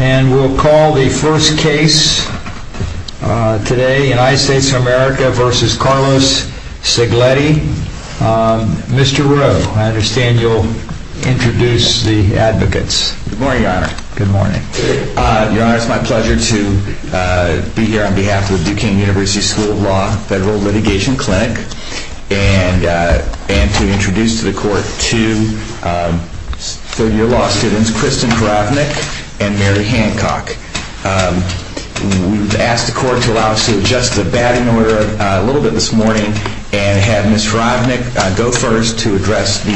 And we'll call the first case today, United States of America v. Carlos Cegledi. Mr. Rowe, I understand you'll introduce the advocates. Good morning, Your Honor. Good morning. Your Honor, it's my pleasure to be here on behalf of Duquesne University School of Law Federal Litigation Clinic and to introduce to the Court two third-year law students, Kristen Kravnik and Mary Hancock. We've asked the Court to allow us to adjust the batting order a little bit this morning and have Ms. Kravnik go first to address the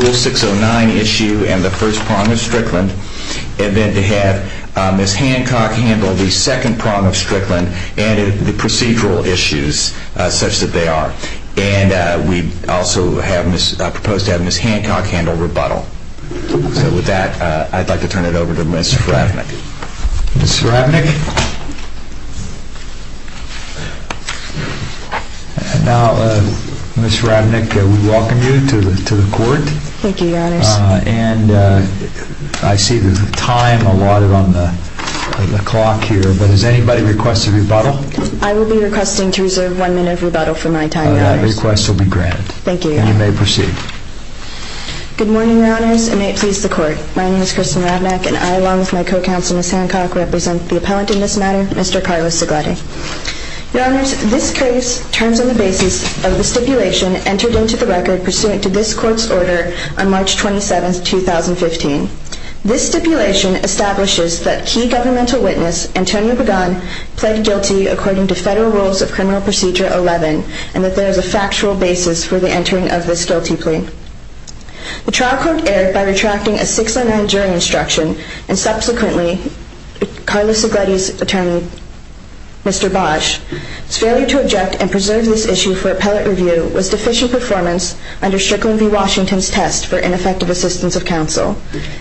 Rule 609 issue and the first prong of Strickland and then to have Ms. Hancock handle the second prong of Strickland and the procedural issues such that they are. And we also propose to have Ms. Hancock handle rebuttal. So with that, I'd like to turn it over to Ms. Kravnik. Ms. Kravnik. Now, Ms. Kravnik, we welcome you to the Court. Thank you, Your Honor. And I see there's a time allotted on the clock here, but does anybody request a rebuttal? I will be requesting to reserve one minute of rebuttal for my time, Your Honor. That request will be granted. Thank you, Your Honor. And you may proceed. Good morning, Your Honors, and may it please the Court. My name is Kristen Kravnik, and I, along with my co-counsel, Ms. Hancock, represent the appellant in this matter, Mr. Carlos Zaglatti. Your Honors, this case turns on the basis of the stipulation entered into the record pursuant to this Court's order on March 27, 2015. This stipulation establishes that key governmental witness, Antonio Pagan, pled guilty according to Federal Rules of Criminal Procedure 11, and that there is a factual basis for the entering of this guilty plea. The trial court erred by retracting a 609 jury instruction, and subsequently, Carlos Zaglatti's attorney, Mr. Bosch's failure to object and preserve this issue for appellate review was deficient performance under Strickland v. Washington's test for ineffective assistance of counsel.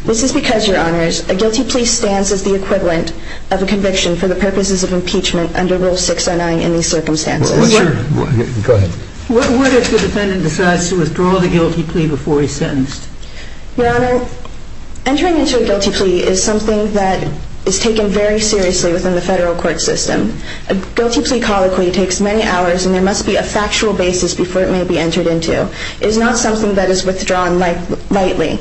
This is because, Your Honors, a guilty plea stands as the equivalent of a conviction for the purposes of impeachment under Rule 609 in these circumstances. What if the defendant decides to withdraw the guilty plea before he's sentenced? Your Honor, entering into a guilty plea is something that is taken very seriously within the federal court system. A guilty plea colloquy takes many hours, and there must be a factual basis before it may be entered into. It is not something that is withdrawn lightly.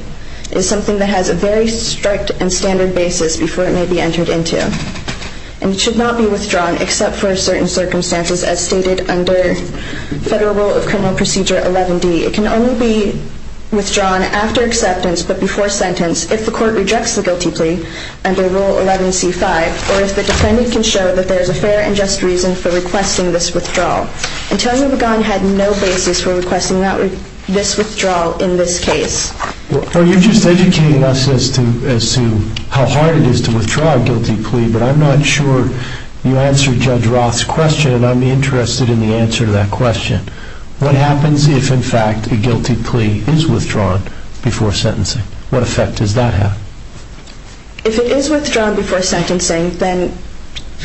It is something that has a very strict and standard basis before it may be entered into. And it should not be withdrawn except for certain circumstances as stated under Federal Rule of Criminal Procedure 11D. It can only be withdrawn after acceptance, but before sentence, if the court rejects the guilty plea under Rule 11C-5, or if the defendant can show that there is a fair and just reason for requesting this withdrawal. Antonio Pagan had no basis for requesting this withdrawal in this case. Well, you're just educating us as to how hard it is to withdraw a guilty plea, but I'm not sure you answered Judge Roth's question, and I'm interested in the answer to that question. What happens if, in fact, a guilty plea is withdrawn before sentencing? What effect does that have? If it is withdrawn before sentencing, then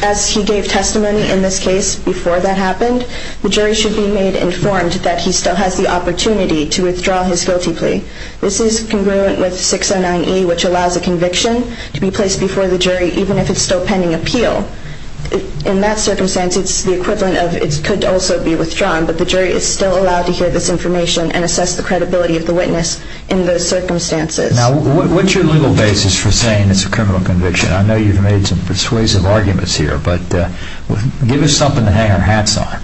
as he gave testimony in this case before that happened, the jury should be made informed that he still has the opportunity to withdraw his guilty plea. This is congruent with 609E, which allows a conviction to be placed before the jury even if it's still pending appeal. In that circumstance, it's the equivalent of it could also be withdrawn, but the jury is still allowed to hear this information and assess the credibility of the witness in those circumstances. Now, what's your legal basis for saying it's a criminal conviction? I know you've made some persuasive arguments here, but give us something to hang our hats on.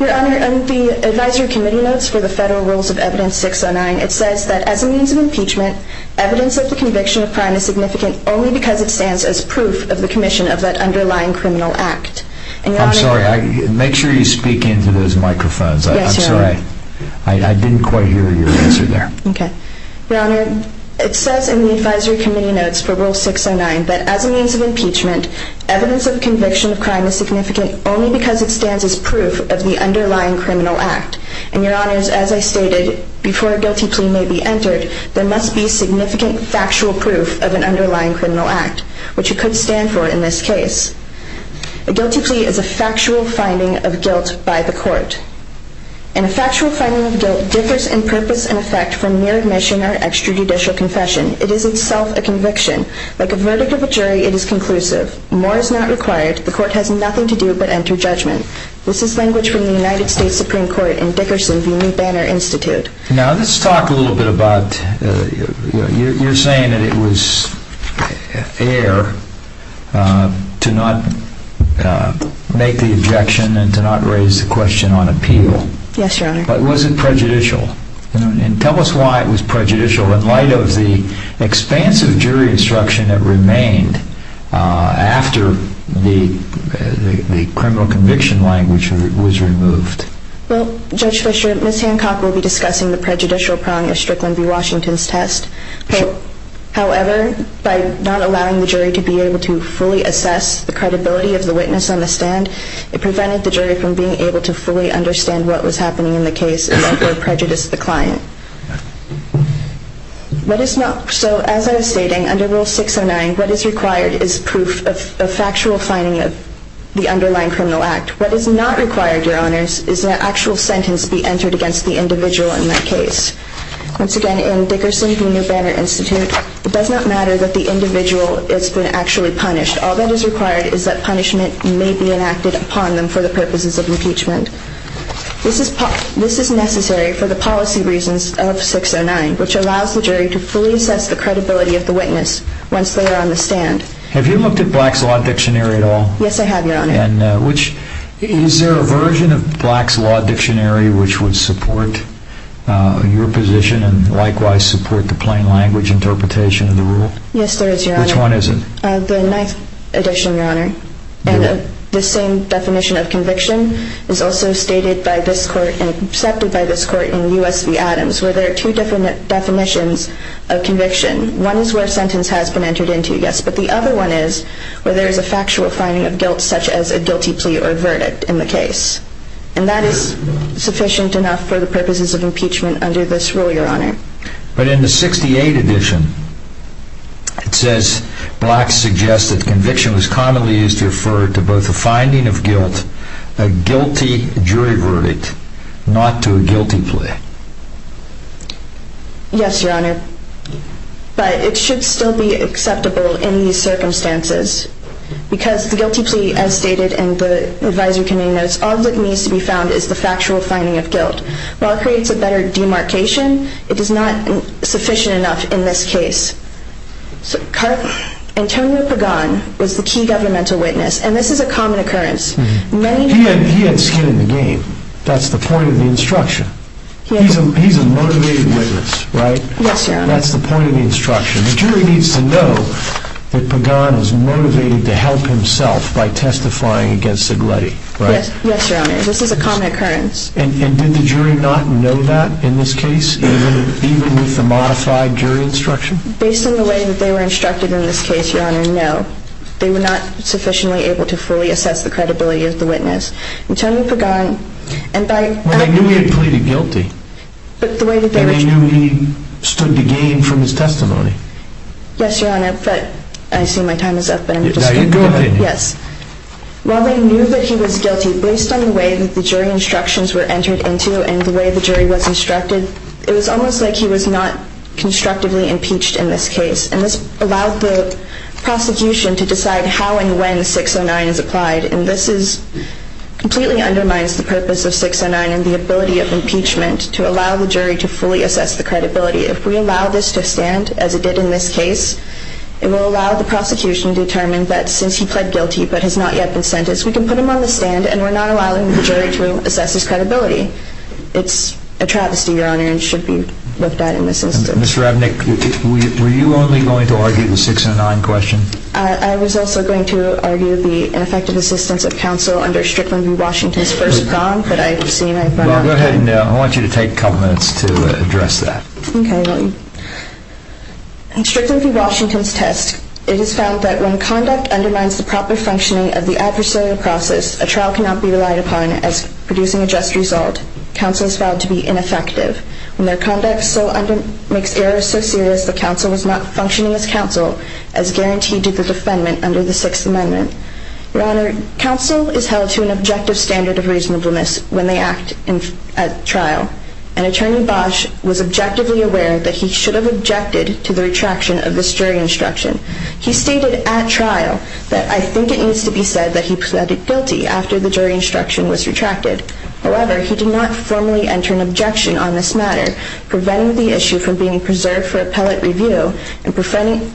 Your Honor, in the advisory committee notes for the Federal Rules of Evidence 609, it says that as a means of impeachment, evidence of the conviction of crime is significant only because it stands as proof of the commission of that underlying criminal act. I'm sorry. Make sure you speak into those microphones. I'm sorry. I didn't quite hear your answer there. Your Honor, it says in the advisory committee notes for Rule 609 that as a means of impeachment, evidence of conviction of crime is significant only because it stands as proof of the underlying criminal act. And, Your Honors, as I stated, before a guilty plea may be entered, there must be significant factual proof of an underlying criminal act, which it could stand for in this case. A guilty plea is a factual finding of guilt by the court. And a factual finding of guilt differs in purpose and effect from mere admission or extrajudicial confession. It is itself a conviction. Like a verdict of a jury, it is conclusive. More is not required. The court has nothing to do but enter judgment. This is language from the United States Supreme Court and Dickerson v. New Banner Institute. Now, let's talk a little bit about, you're saying that it was fair to not make the objection and to not raise the question on appeal. Yes, Your Honor. But was it prejudicial? And tell us why it was prejudicial in light of the expansive jury instruction that remained after the criminal conviction language was removed. Well, Judge Fischer, Ms. Hancock will be discussing the prejudicial prong of Strickland v. Washington's test. However, by not allowing the jury to be able to fully assess the credibility of the witness on the stand, it prevented the jury from being able to fully understand what was happening in the case and therefore prejudice the client. So, as I was stating, under Rule 609, what is required is proof of factual finding of the underlying criminal act. What is not required, Your Honors, is an actual sentence be entered against the individual in that case. Once again, in Dickerson v. New Banner Institute, it does not matter that the individual has been actually punished. All that is required is that punishment may be enacted upon them for the purposes of impeachment. This is necessary for the policy reasons of 609, which allows the jury to fully assess the credibility of the witness once they are on the stand. Have you looked at Black's Law Dictionary at all? Yes, I have, Your Honor. Is there a version of Black's Law Dictionary which would support your position and likewise support the plain language interpretation of the rule? Yes, there is, Your Honor. Which one is it? The ninth edition, Your Honor. And the same definition of conviction is also stated by this court and accepted by this court in U.S. v. Adams, where there are two different definitions of conviction. One is where a sentence has been entered into, yes, but the other one is where there is a factual finding of guilt such as a guilty plea or verdict in the case. And that is sufficient enough for the purposes of impeachment under this rule, Your Honor. But in the 68 edition, it says Black suggests that conviction was commonly used to refer to both a finding of guilt, a guilty jury verdict, not to a guilty plea. Yes, Your Honor, but it should still be acceptable in these circumstances because the guilty plea, as stated in the advisory committee notes, all that needs to be found is the factual finding of guilt. While it creates a better demarcation, it is not sufficient enough in this case. Antonio Pagan was the key governmental witness, and this is a common occurrence. He had skin in the game. That's the point of the instruction. He's a motivated witness, right? Yes, Your Honor. That's the point of the instruction. The jury needs to know that Pagan is motivated to help himself by testifying against Segletti, right? Yes, Your Honor. This is a common occurrence. And did the jury not know that in this case, even with the modified jury instruction? Based on the way that they were instructed in this case, Your Honor, no. They were not sufficiently able to fully assess the credibility of the witness. Antonio Pagan, and by... Well, they knew he had pleaded guilty. But the way that they were... And they knew he stood to gain from his testimony. Yes, Your Honor, but I see my time is up, but I'm just going to go ahead. Go ahead. Yes. While they knew that he was guilty, based on the way that the jury instructions were entered into and the way the jury was instructed, it was almost like he was not constructively impeached in this case. And this allowed the prosecution to decide how and when 609 is applied. And this completely undermines the purpose of 609 and the ability of impeachment to allow the jury to fully assess the credibility. If we allow this to stand, as it did in this case, it will allow the prosecution to determine that since he pled guilty but has not yet been sentenced, we can put him on the stand and we're not allowing the jury to assess his credibility. It's a travesty, Your Honor, and should be looked at in this instance. Ms. Ravnik, were you only going to argue the 609 question? I was also going to argue the ineffective assistance of counsel under Strickland v. Washington's first bond, but I've seen I've run out of time. Well, go ahead, and I want you to take a couple minutes to address that. Okay. In Strickland v. Washington's test, it is found that when conduct undermines the proper functioning of the adversarial process, a trial cannot be relied upon as producing a just result. Counsel is found to be ineffective. When their conduct makes errors so serious, the counsel was not functioning as counsel as guaranteed to the defendant under the Sixth Amendment. Your Honor, counsel is held to an objective standard of reasonableness when they act at trial, and Attorney Bosch was objectively aware that he should have objected to the retraction of this jury instruction. He stated at trial that I think it needs to be said that he pleaded guilty after the jury instruction was retracted. However, he did not formally enter an objection on this matter, preventing the issue from being preserved for appellate review and preventing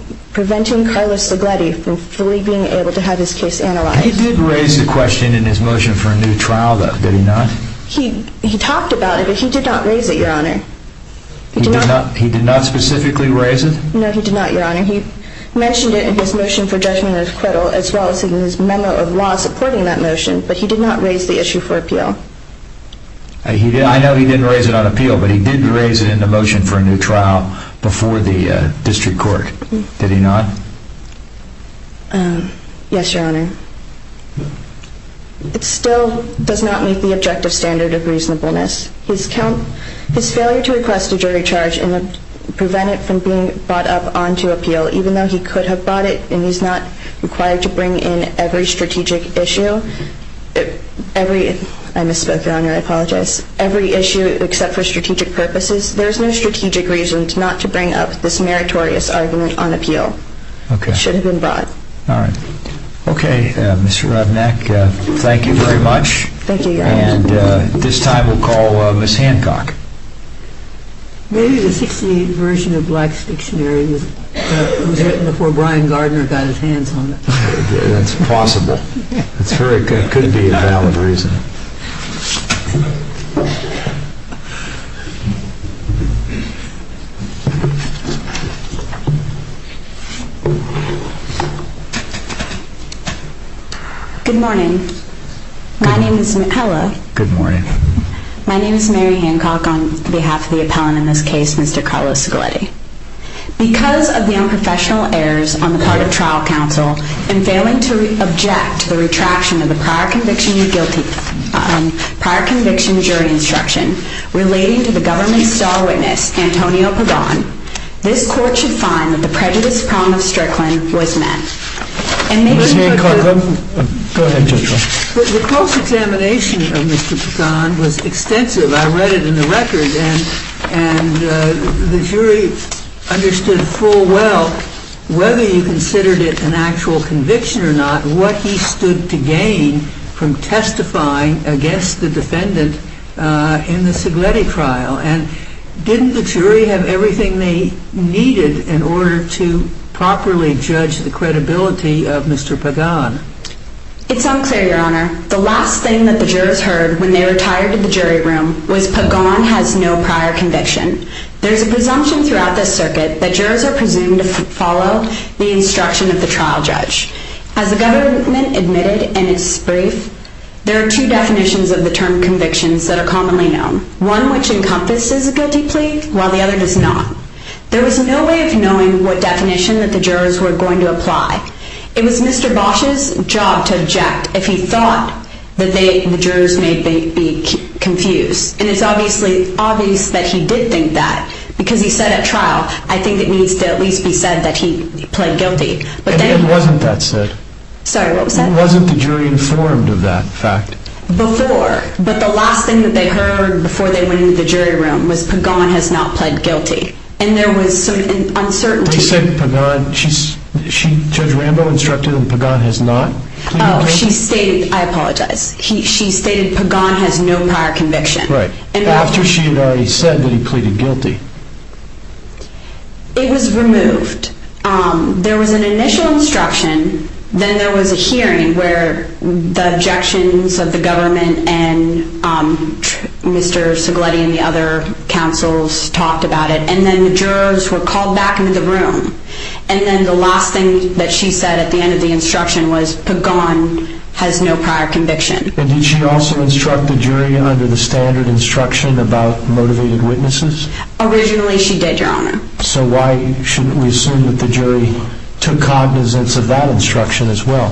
Carlos Zagledi from fully being able to have his case analyzed. He did raise the question in his motion for a new trial, though, did he not? He talked about it, but he did not raise it, Your Honor. He did not specifically raise it? No, he did not, Your Honor. He mentioned it in his motion for judgment of acquittal as well as in his memo of law supporting that motion, but he did not raise the issue for appeal. I know he didn't raise it on appeal, but he did raise it in the motion for a new trial before the district court, did he not? Yes, Your Honor. It still does not meet the objective standard of reasonableness. His failure to request a jury charge and prevent it from being brought up onto appeal, even though he could have brought it and he's not required to bring in every strategic issue, I misspoke, Your Honor, I apologize, every issue except for strategic purposes, there's no strategic reason not to bring up this meritorious argument on appeal. It should have been brought. Okay, Mr. Rudnick, thank you very much. Thank you, Your Honor. And this time we'll call Ms. Hancock. Maybe the 1968 version of Black's Dictionary was written before Brian Gardner got his hands on it. That's possible. It could be a valid reason. Good morning. My name is Mary Hancock on behalf of the appellant in this case, Mr. Carlo Scoletti. Because of the unprofessional errors on the part of trial counsel in failing to object to the retraction of the prior conviction jury instruction relating to the government's star witness, Antonio Pagan, this court should find that the prejudice prong of Strickland was met. The close examination of Mr. Pagan was extensive. I read it in the record, and the jury understood full well whether you considered it an actual conviction or not, what he stood to gain from testifying against the defendant in the Scoletti trial. And didn't the jury have everything they needed in order to properly judge the credibility of Mr. Pagan? It's unclear, Your Honor. The last thing that the jurors heard when they retired to the jury room was Pagan has no prior conviction. There's a presumption throughout this circuit that jurors are presumed to follow the instruction of the trial judge. As the government admitted in its brief, there are two definitions of the term convictions that are commonly known, one which encompasses a guilty plea, while the other does not. There was no way of knowing what definition that the jurors were going to apply. It was Mr. Bosch's job to object if he thought that the jurors may be confused. And it's obvious that he did think that, because he said at trial, I think it needs to at least be said that he pled guilty. It wasn't that said. Sorry, what was that? It wasn't the jury informed of that fact. Before. But the last thing that they heard before they went into the jury room was Pagan has not pled guilty. And there was sort of an uncertainty. Judge Rambo instructed that Pagan has not pleaded guilty. Oh, she stated, I apologize, she stated Pagan has no prior conviction. Right. After she had already said that he pleaded guilty. It was removed. There was an initial instruction. Then there was a hearing where the objections of the government and Mr. Segletti and the other counsels talked about it. And then the jurors were called back into the room. And then the last thing that she said at the end of the instruction was Pagan has no prior conviction. And did she also instruct the jury under the standard instruction about motivated witnesses? Originally she did, Your Honor. So why shouldn't we assume that the jury took cognizance of that instruction as well?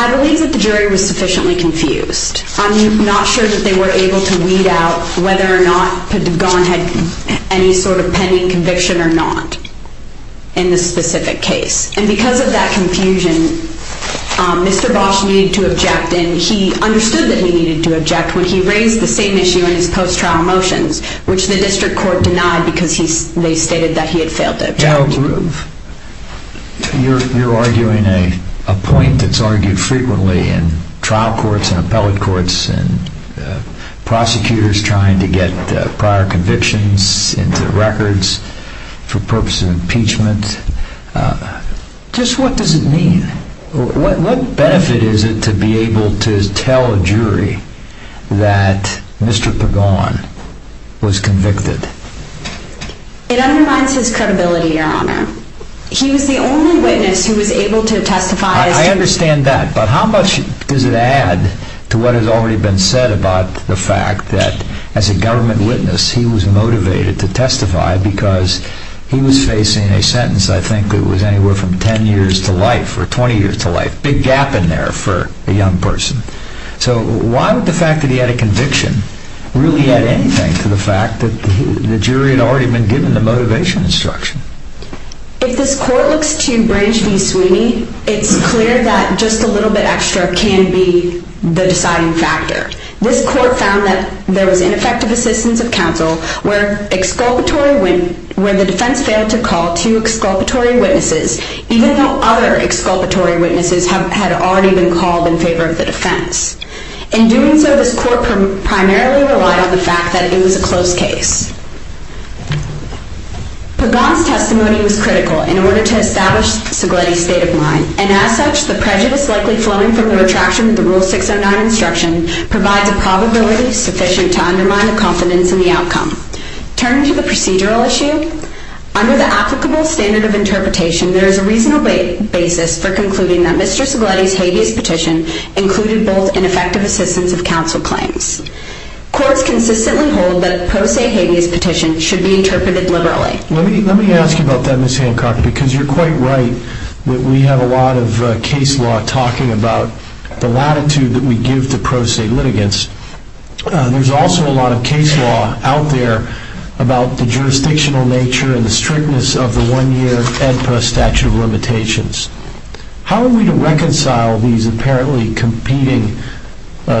I believe that the jury was sufficiently confused. I'm not sure that they were able to weed out whether or not Pagan had any sort of pending conviction or not in this specific case. And because of that confusion, Mr. Bosch needed to object. And he understood that he needed to object when he raised the same issue in his post-trial motions, which the district court denied because they stated that he had failed to object. You're arguing a point that's argued frequently in trial courts and appellate courts and prosecutors trying to get prior convictions into records for purpose of impeachment. Just what does it mean? What benefit is it to be able to tell a jury that Mr. Pagan was convicted? It undermines his credibility, Your Honor. He was the only witness who was able to testify. I understand that, but how much does it add to what has already been said about the fact that as a government witness he was motivated to testify because he was facing a sentence I think that was anywhere from 10 years to life or 20 years to life. Big gap in there for a young person. So why would the fact that he had a conviction really add anything to the fact that the jury had already been given the motivation instruction? If this court looks to Branch v. Sweeney, it's clear that just a little bit extra can be the deciding factor. This court found that there was ineffective assistance of counsel where the defense failed to call two exculpatory witnesses, even though other exculpatory witnesses had already been called in favor of the defense. In doing so, this court primarily relied on the fact that it was a close case. Pagan's testimony was critical in order to establish Segletti's state of mind, and as such, the prejudice likely flowing from the retraction of the Rule 609 instruction provides a probability sufficient to undermine the confidence in the outcome. Turning to the procedural issue, under the applicable standard of interpretation, there is a reasonable basis for concluding that Mr. Segletti's habeas petition included both ineffective assistance of counsel claims. Courts consistently hold that a pro se habeas petition should be interpreted liberally. Let me ask you about that, Ms. Hancock, because you're quite right that we have a lot of case law talking about the latitude that we give to pro se litigants. There's also a lot of case law out there about the jurisdictional nature and the strictness of the one-year AEDPA statute of limitations. How are we to reconcile these apparently competing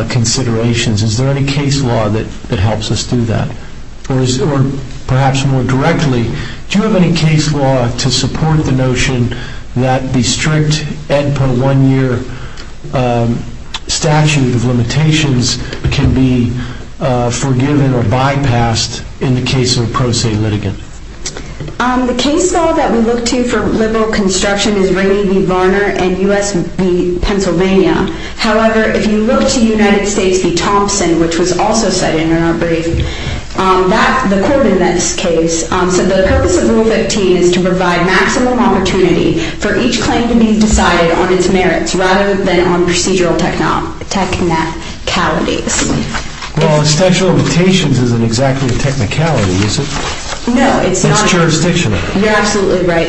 considerations? Is there any case law that helps us do that? Or perhaps more directly, do you have any case law to support the notion that the strict AEDPA one-year statute of limitations can be forgiven or bypassed in the case of a pro se litigant? The case law that we look to for liberal construction is Rady v. Varner and U.S. v. Pennsylvania. However, if you look to United States v. Thompson, which was also cited in our brief, the court in this case said the purpose of Rule 15 is to provide maximum opportunity for each claim to be decided on its merits rather than on procedural technicalities. Well, the statute of limitations isn't exactly a technicality, is it? No, it's not. It's jurisdictional. You're absolutely right.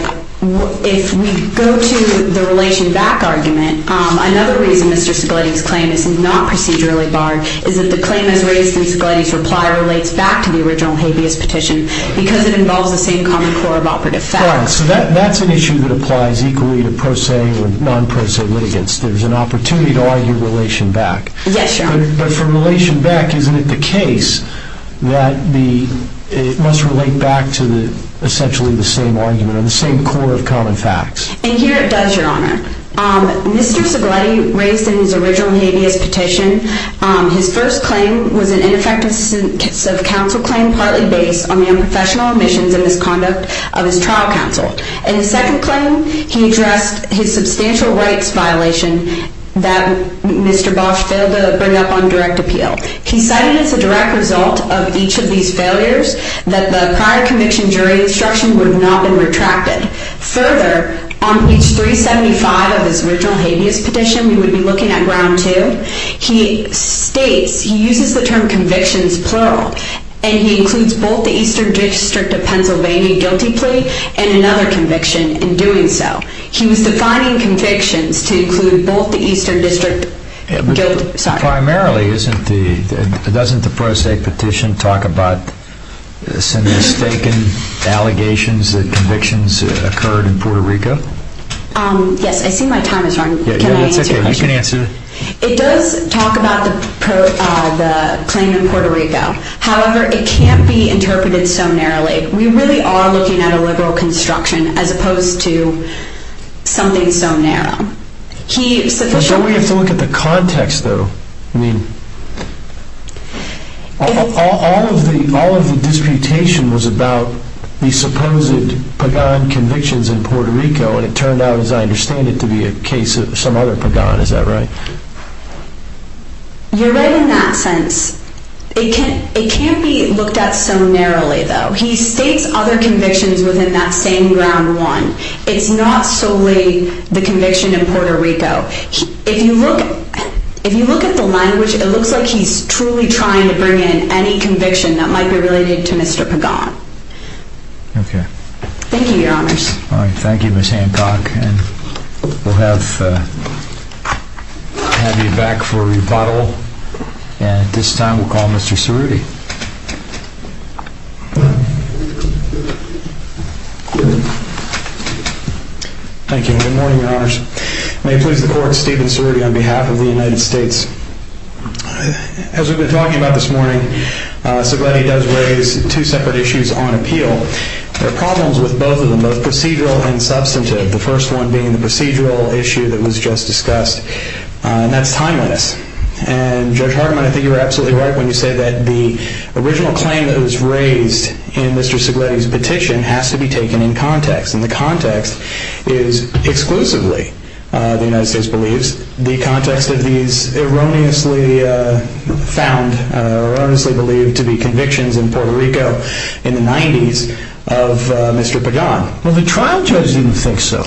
If we go to the relation back argument, another reason Mr. Segleti's claim is not procedurally barred is that the claim as raised in Segleti's reply relates back to the original habeas petition because it involves the same common core of operative facts. Right. So that's an issue that applies equally to pro se or non pro se litigants. There's an opportunity to argue relation back. Yes, Your Honor. But for relation back, isn't it the case that it must relate back to essentially the same argument or the same core of common facts? And here it does, Your Honor. Mr. Segleti raised in his original habeas petition, his first claim was an ineffective sub-counsel claim partly based on the unprofessional omissions and misconduct of his trial counsel. In his second claim, he addressed his substantial rights violation that Mr. Bosch failed to bring up on direct appeal. He cited as a direct result of each of these failures that the prior conviction jury instruction would not have been retracted. Further, on page 375 of his original habeas petition, we would be looking at round two, he states, he uses the term convictions plural, and he includes both the Eastern District of Pennsylvania guilty plea and another conviction in doing so. He was defining convictions to include both the Eastern District guilty plea. Primarily, doesn't the pro se petition talk about some mistaken allegations that convictions occurred in Puerto Rico? Yes, I see my time is running. It's okay, you can answer. It does talk about the claim in Puerto Rico. However, it can't be interpreted so narrowly. We really are looking at a liberal construction as opposed to something so narrow. Don't we have to look at the context though? All of the disputation was about the supposed Pagan convictions in Puerto Rico and it turned out, as I understand it, to be a case of some other Pagan. Is that right? You're right in that sense. It can't be looked at so narrowly though. He states other convictions within that same round one. It's not solely the conviction in Puerto Rico. If you look at the language, it looks like he's truly trying to bring in any conviction that might be related to Mr. Pagan. Okay. Thank you, Your Honors. Thank you, Ms. Hancock. We'll have you back for a rebuttal. At this time, we'll call Mr. Cerruti. Thank you. Good morning, Your Honors. May it please the Court, Stephen Cerruti on behalf of the United States. As we've been talking about this morning, Segletti does raise two separate issues on appeal. There are problems with both of them, both procedural and substantive, the first one being the procedural issue that was just discussed, and that's timeliness. And Judge Hardiman, I think you were absolutely right when you said that the original claim that was raised in Mr. Segletti's petition has to be taken in context. And the context is exclusively, the United States believes, the context of these erroneously found, erroneously believed to be convictions in Puerto Rico in the 90s of Mr. Pagan. Well, the trial judge didn't think so.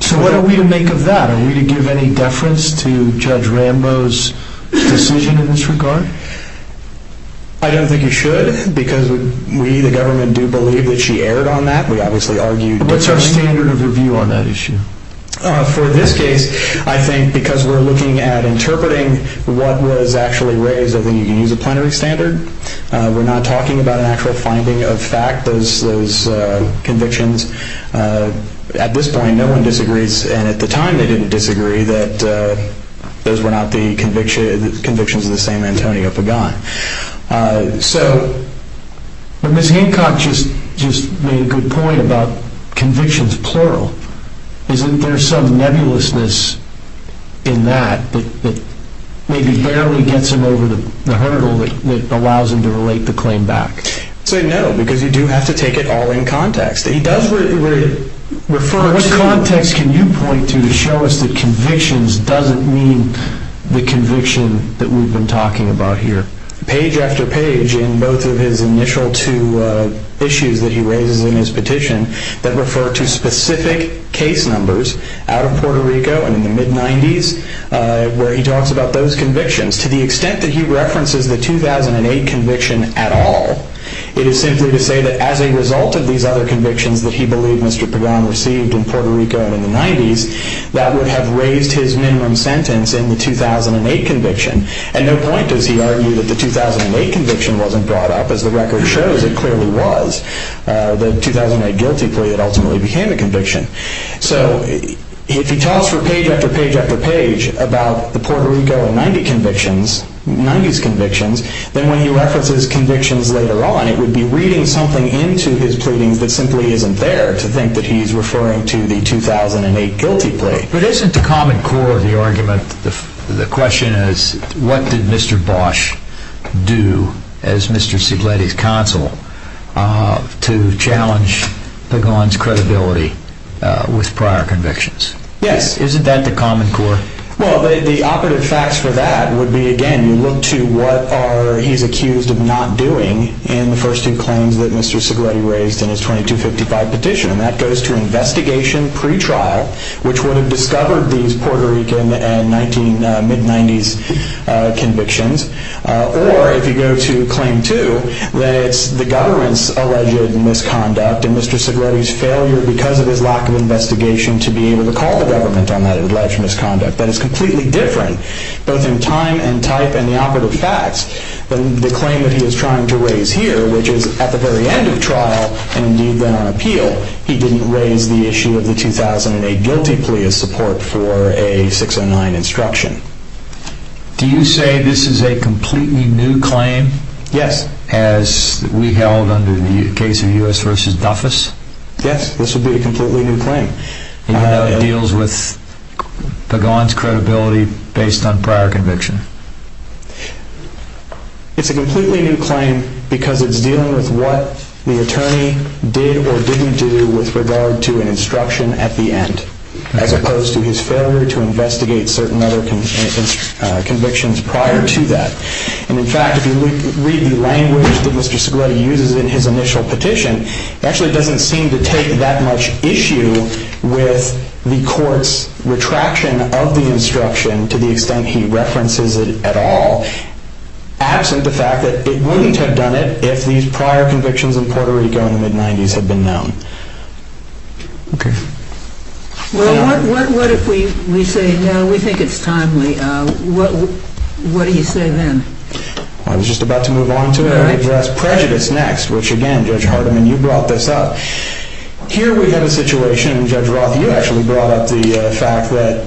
So what are we to make of that? Are we to give any deference to Judge Rambo's decision in this regard? I don't think you should because we, the government, do believe that she erred on that. What's our standard of review on that issue? For this case, I think because we're looking at interpreting what was actually raised, I think you can use a plenary standard. We're not talking about an actual finding of fact, those convictions. At this point, no one disagrees, and at the time they didn't disagree, that those were not the convictions of the same Antonio Pagan. So Ms. Hancock just made a good point about convictions plural. Isn't there some nebulousness in that that maybe barely gets him over the hurdle that allows him to relate the claim back? I'd say no because you do have to take it all in context. He does refer to it. What context can you point to to show us that convictions doesn't mean the conviction that we've been talking about here? Page after page in both of his initial two issues that he raises in his petition that refer to specific case numbers out of Puerto Rico and in the mid-'90s where he talks about those convictions. To the extent that he references the 2008 conviction at all, it is simply to say that as a result of these other convictions that he believed Mr. Pagan received in Puerto Rico and in the 90s, that would have raised his minimum sentence in the 2008 conviction. At no point does he argue that the 2008 conviction wasn't brought up. As the record shows, it clearly was. The 2008 guilty plea that ultimately became a conviction. So if he talks for page after page after page about the Puerto Rico and 90 convictions, 90s convictions, then when he references convictions later on, it would be reading something into his pleadings that simply isn't there to think that he's referring to the 2008 guilty plea. But isn't the common core of the argument, the question is, what did Mr. Bosch do as Mr. Sigletti's counsel to challenge Pagan's credibility with prior convictions? Yes. Isn't that the common core? Well, the operative facts for that would be, again, you look to what he's accused of not doing in the first two claims that Mr. Sigletti raised in his 2255 petition, and that goes to investigation pretrial, which would have discovered these Puerto Rican and mid-90s convictions, or if you go to claim two, that it's the government's alleged misconduct and Mr. Sigletti's failure, because of his lack of investigation, to be able to call the government on that alleged misconduct. That is completely different, both in time and type and the operative facts, than the claim that he is trying to raise here, which is at the very end of trial, and indeed then on appeal, he didn't raise the issue of the 2008 guilty plea as support for a 609 instruction. Do you say this is a completely new claim? Yes. As we held under the case of U.S. v. Duffus? Yes, this would be a completely new claim. And you know it deals with Pagan's credibility based on prior conviction? It's a completely new claim because it's dealing with what the attorney did or didn't do with regard to an instruction at the end, as opposed to his failure to investigate certain other convictions prior to that. And in fact, if you read the language that Mr. Sigletti uses in his initial petition, it actually doesn't seem to take that much issue with the court's retraction of the instruction to the extent he references it at all, absent the fact that it wouldn't have done it if these prior convictions in Puerto Rico in the mid-90s had been known. Okay. Well, what if we say, no, we think it's timely. What do you say then? I was just about to move on to address prejudice next, which again, Judge Hardiman, you brought this up. Here we have a situation, and Judge Roth, you actually brought up the fact that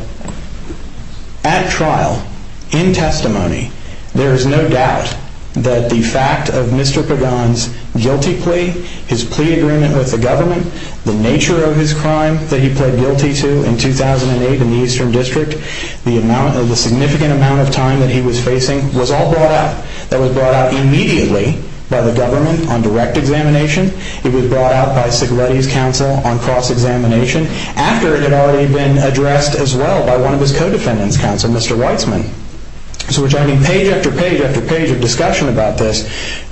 at trial, in testimony, there is no doubt that the fact of Mr. Pagan's guilty plea, his plea agreement with the government, the nature of his crime that he pled guilty to in 2008 in the Eastern District, the significant amount of time that he was facing was all brought up. That was brought out immediately by the government on direct examination. It was brought out by Sigletti's counsel on cross-examination. After it had already been addressed as well by one of his co-defendants' counsel, Mr. Weitzman. So we're talking page after page after page of discussion about this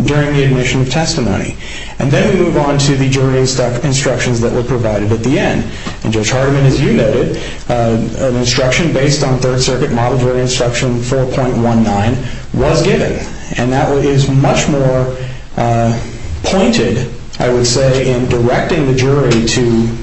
during the admission of testimony. And then we move on to the jury's instructions that were provided at the end. And Judge Hardiman, as you noted, an instruction based on Third Circuit Model Jury Instruction 4.19 was given. And that is much more pointed, I would say, in directing the jury to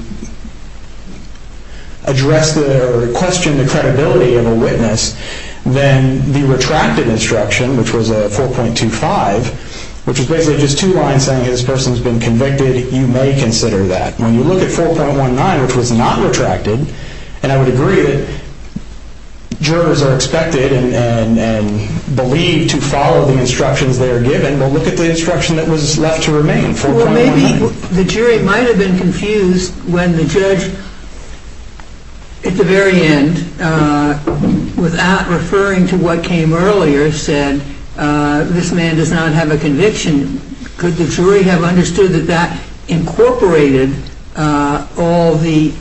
address or question the credibility of a witness than the retracted instruction, which was 4.25, which is basically just two lines saying this person has been convicted, you may consider that. When you look at 4.19, which was not retracted, and I would agree that jurors are expected and believed to follow the instructions they are given, but look at the instruction that was left to remain, 4.19. Well, maybe the jury might have been confused when the judge, at the very end, without referring to what came earlier, said, this man does not have a conviction. And could the jury have understood that that incorporated all the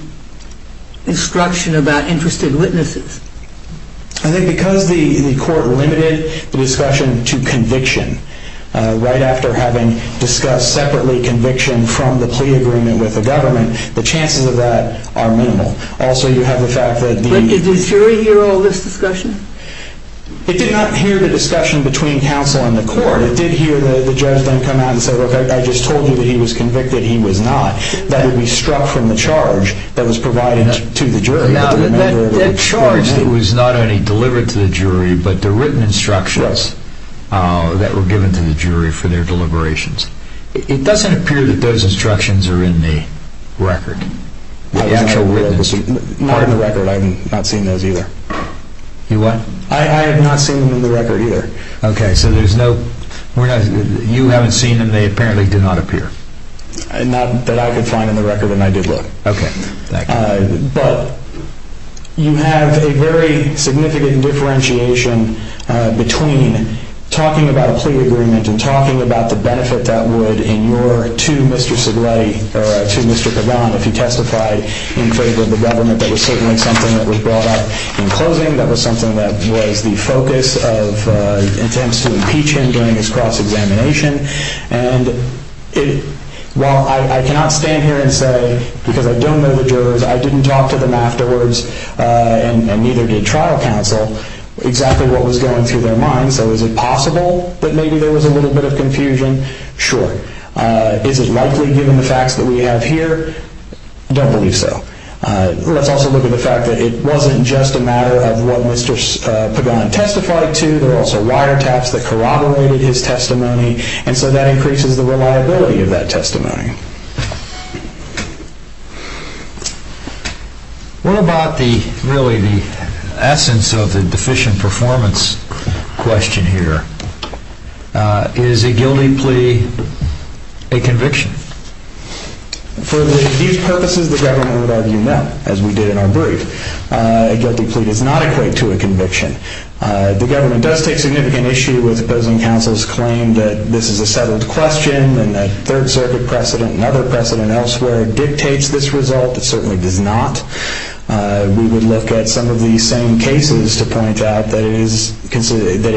instruction about interested witnesses? I think because the court limited the discussion to conviction, right after having discussed separately conviction from the plea agreement with the government, the chances of that are minimal. Also, you have the fact that the... But did the jury hear all this discussion? It did not hear the discussion between counsel and the court. It did hear the judge then come out and say, look, I just told you that he was convicted, he was not. That would be struck from the charge that was provided to the jury. Now, that charge that was not only delivered to the jury, but the written instructions that were given to the jury for their deliberations, it doesn't appear that those instructions are in the record. The actual written instructions. Not in the record. I have not seen those either. You what? I have not seen them in the record either. Okay, so there's no... You haven't seen them, they apparently did not appear. Not that I could find in the record, and I did look. Okay, thank you. But you have a very significant differentiation between talking about a plea agreement and talking about the benefit that would in your to Mr. Segre, or to Mr. Kavan if he testified in favor of the government. That was certainly something that was brought up in closing. That was something that was the focus of attempts to impeach him during his cross-examination. And while I cannot stand here and say, because I don't know the jurors, I didn't talk to them afterwards, and neither did trial counsel, exactly what was going through their minds. So is it possible that maybe there was a little bit of confusion? Sure. Is it likely, given the facts that we have here? Don't believe so. Let's also look at the fact that it wasn't just a matter of what Mr. Pagan testified to. There were also wiretaps that corroborated his testimony, and so that increases the reliability of that testimony. What about really the essence of the deficient performance question here? Is a guilty plea a conviction? For these purposes, the government would argue no, as we did in our brief. A guilty plea does not equate to a conviction. The government does take significant issue with opposing counsel's claim that this is a settled question, and that Third Circuit precedent and other precedent elsewhere dictates this result. It certainly does not. We would look at some of the same cases to point out that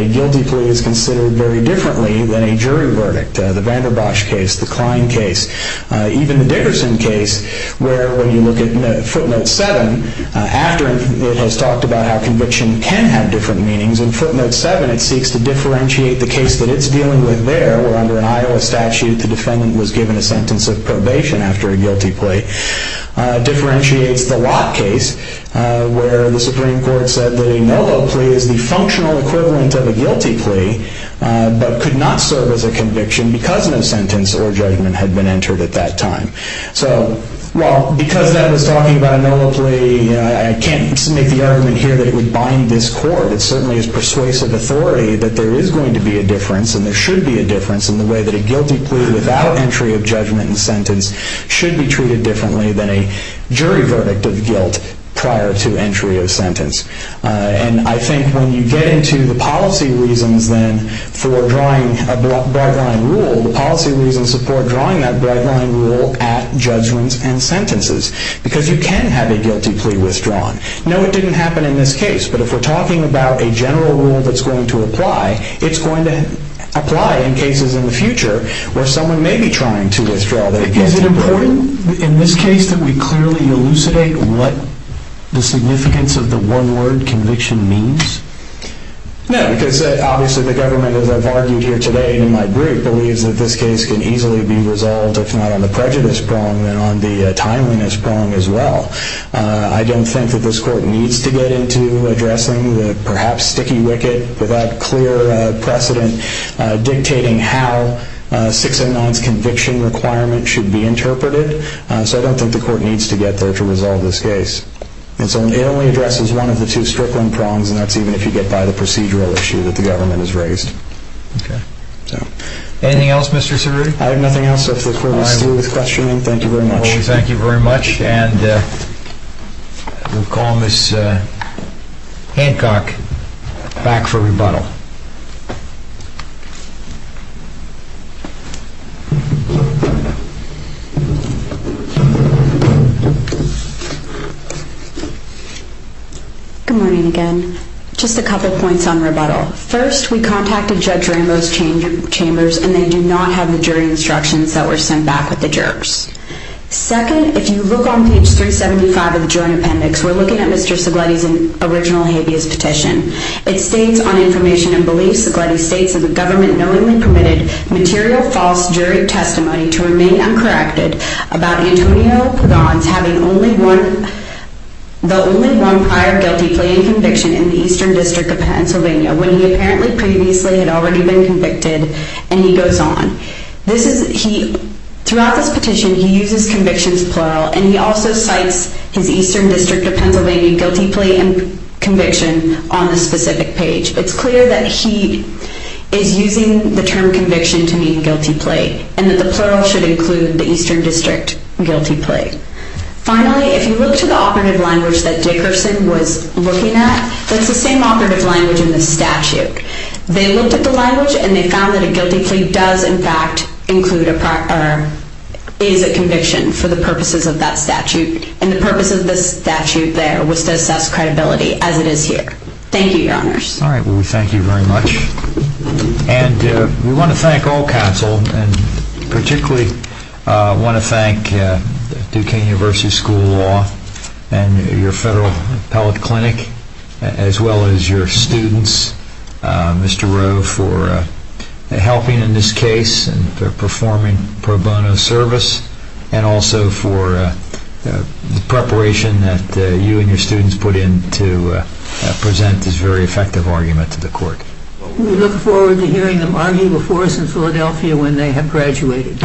a guilty plea is considered very differently than a jury verdict. The Vanderbosch case, the Klein case, even the Dickerson case, where when you look at footnote 7, after it has talked about how conviction can have different meanings, in footnote 7 it seeks to differentiate the case that it's dealing with there, where under an Iowa statute the defendant was given a sentence of probation after a guilty plea, differentiates the Locke case, where the Supreme Court said that a no vote plea is the functional equivalent of a guilty plea, but could not serve as a conviction because no sentence or judgment had been entered at that time. So, well, because that was talking about a no vote plea, I can't make the argument here that it would bind this court. It certainly is persuasive authority that there is going to be a difference, and there should be a difference, in the way that a guilty plea without entry of judgment and sentence should be treated differently than a jury verdict of guilt prior to entry of sentence. And I think when you get into the policy reasons, then, for drawing a bright line rule, the policy reasons support drawing that bright line rule at judgments and sentences, because you can have a guilty plea withdrawn. No, it didn't happen in this case, but if we're talking about a general rule that's going to apply, it's going to apply in cases in the future where someone may be trying to withdraw their guilty plea. Is it important in this case that we clearly elucidate what the significance of the one-word conviction means? No, because obviously the government, as I've argued here today in my group, believes that this case can easily be resolved, if not on the prejudice prong, then on the timeliness prong as well. I don't think that this court needs to get into addressing the perhaps sticky wicket, without clear precedent, dictating how 609's conviction requirement should be interpreted. So I don't think the court needs to get there to resolve this case. And so it only addresses one of the two strickland prongs, and that's even if you get by the procedural issue that the government has raised. Okay. Anything else, Mr. Cerruti? I have nothing else. If the court is through with questioning, thank you very much. Well, we thank you very much, and we'll call Ms. Hancock back for rebuttal. Good morning again. Just a couple points on rebuttal. First, we contacted Judge Rambo's chambers, and they do not have the jury instructions that were sent back with the jurors. Second, if you look on page 375 of the joint appendix, we're looking at Mr. Segletti's original habeas petition. It states on information and beliefs, Segletti states, that the government knowingly permitted material false jury testimony to remain uncorrected about Antonio Pagans having the only one prior guilty plea and conviction in the Eastern District of Pennsylvania, when he apparently previously had already been convicted, and he goes on. Throughout this petition, he uses convictions plural, and he also cites his Eastern District of Pennsylvania guilty plea and conviction on the specific page. It's clear that he is using the term conviction to mean guilty plea, and that the plural should include the Eastern District guilty plea. Finally, if you look to the operative language that Dickerson was looking at, that's the same operative language in the statute. They looked at the language, and they found that a guilty plea does, in fact, include a prior, is a conviction for the purposes of that statute, and the purpose of the statute there was to assess credibility, as it is here. Thank you, Your Honors. All right, we thank you very much. And we want to thank all counsel, and particularly want to thank Duquesne University School of Law and your Federal Appellate Clinic, as well as your students, Mr. Rowe, for helping in this case and for performing pro bono service, and also for the preparation that you and your students put in to present this very effective argument to the court. We look forward to hearing them argue before us in Philadelphia when they have graduated.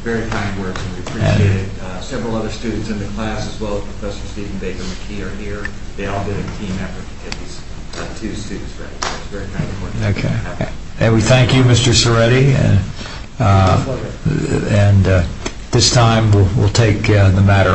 Very kind words, and we appreciate it. Several other students in the class, as well as Professor Stephen Baker McKee are here. They all did a team effort to get these two students ready, so it's very kind of them. And we thank you, Mr. Ceretti, and at this time we'll take the matter unnoticed.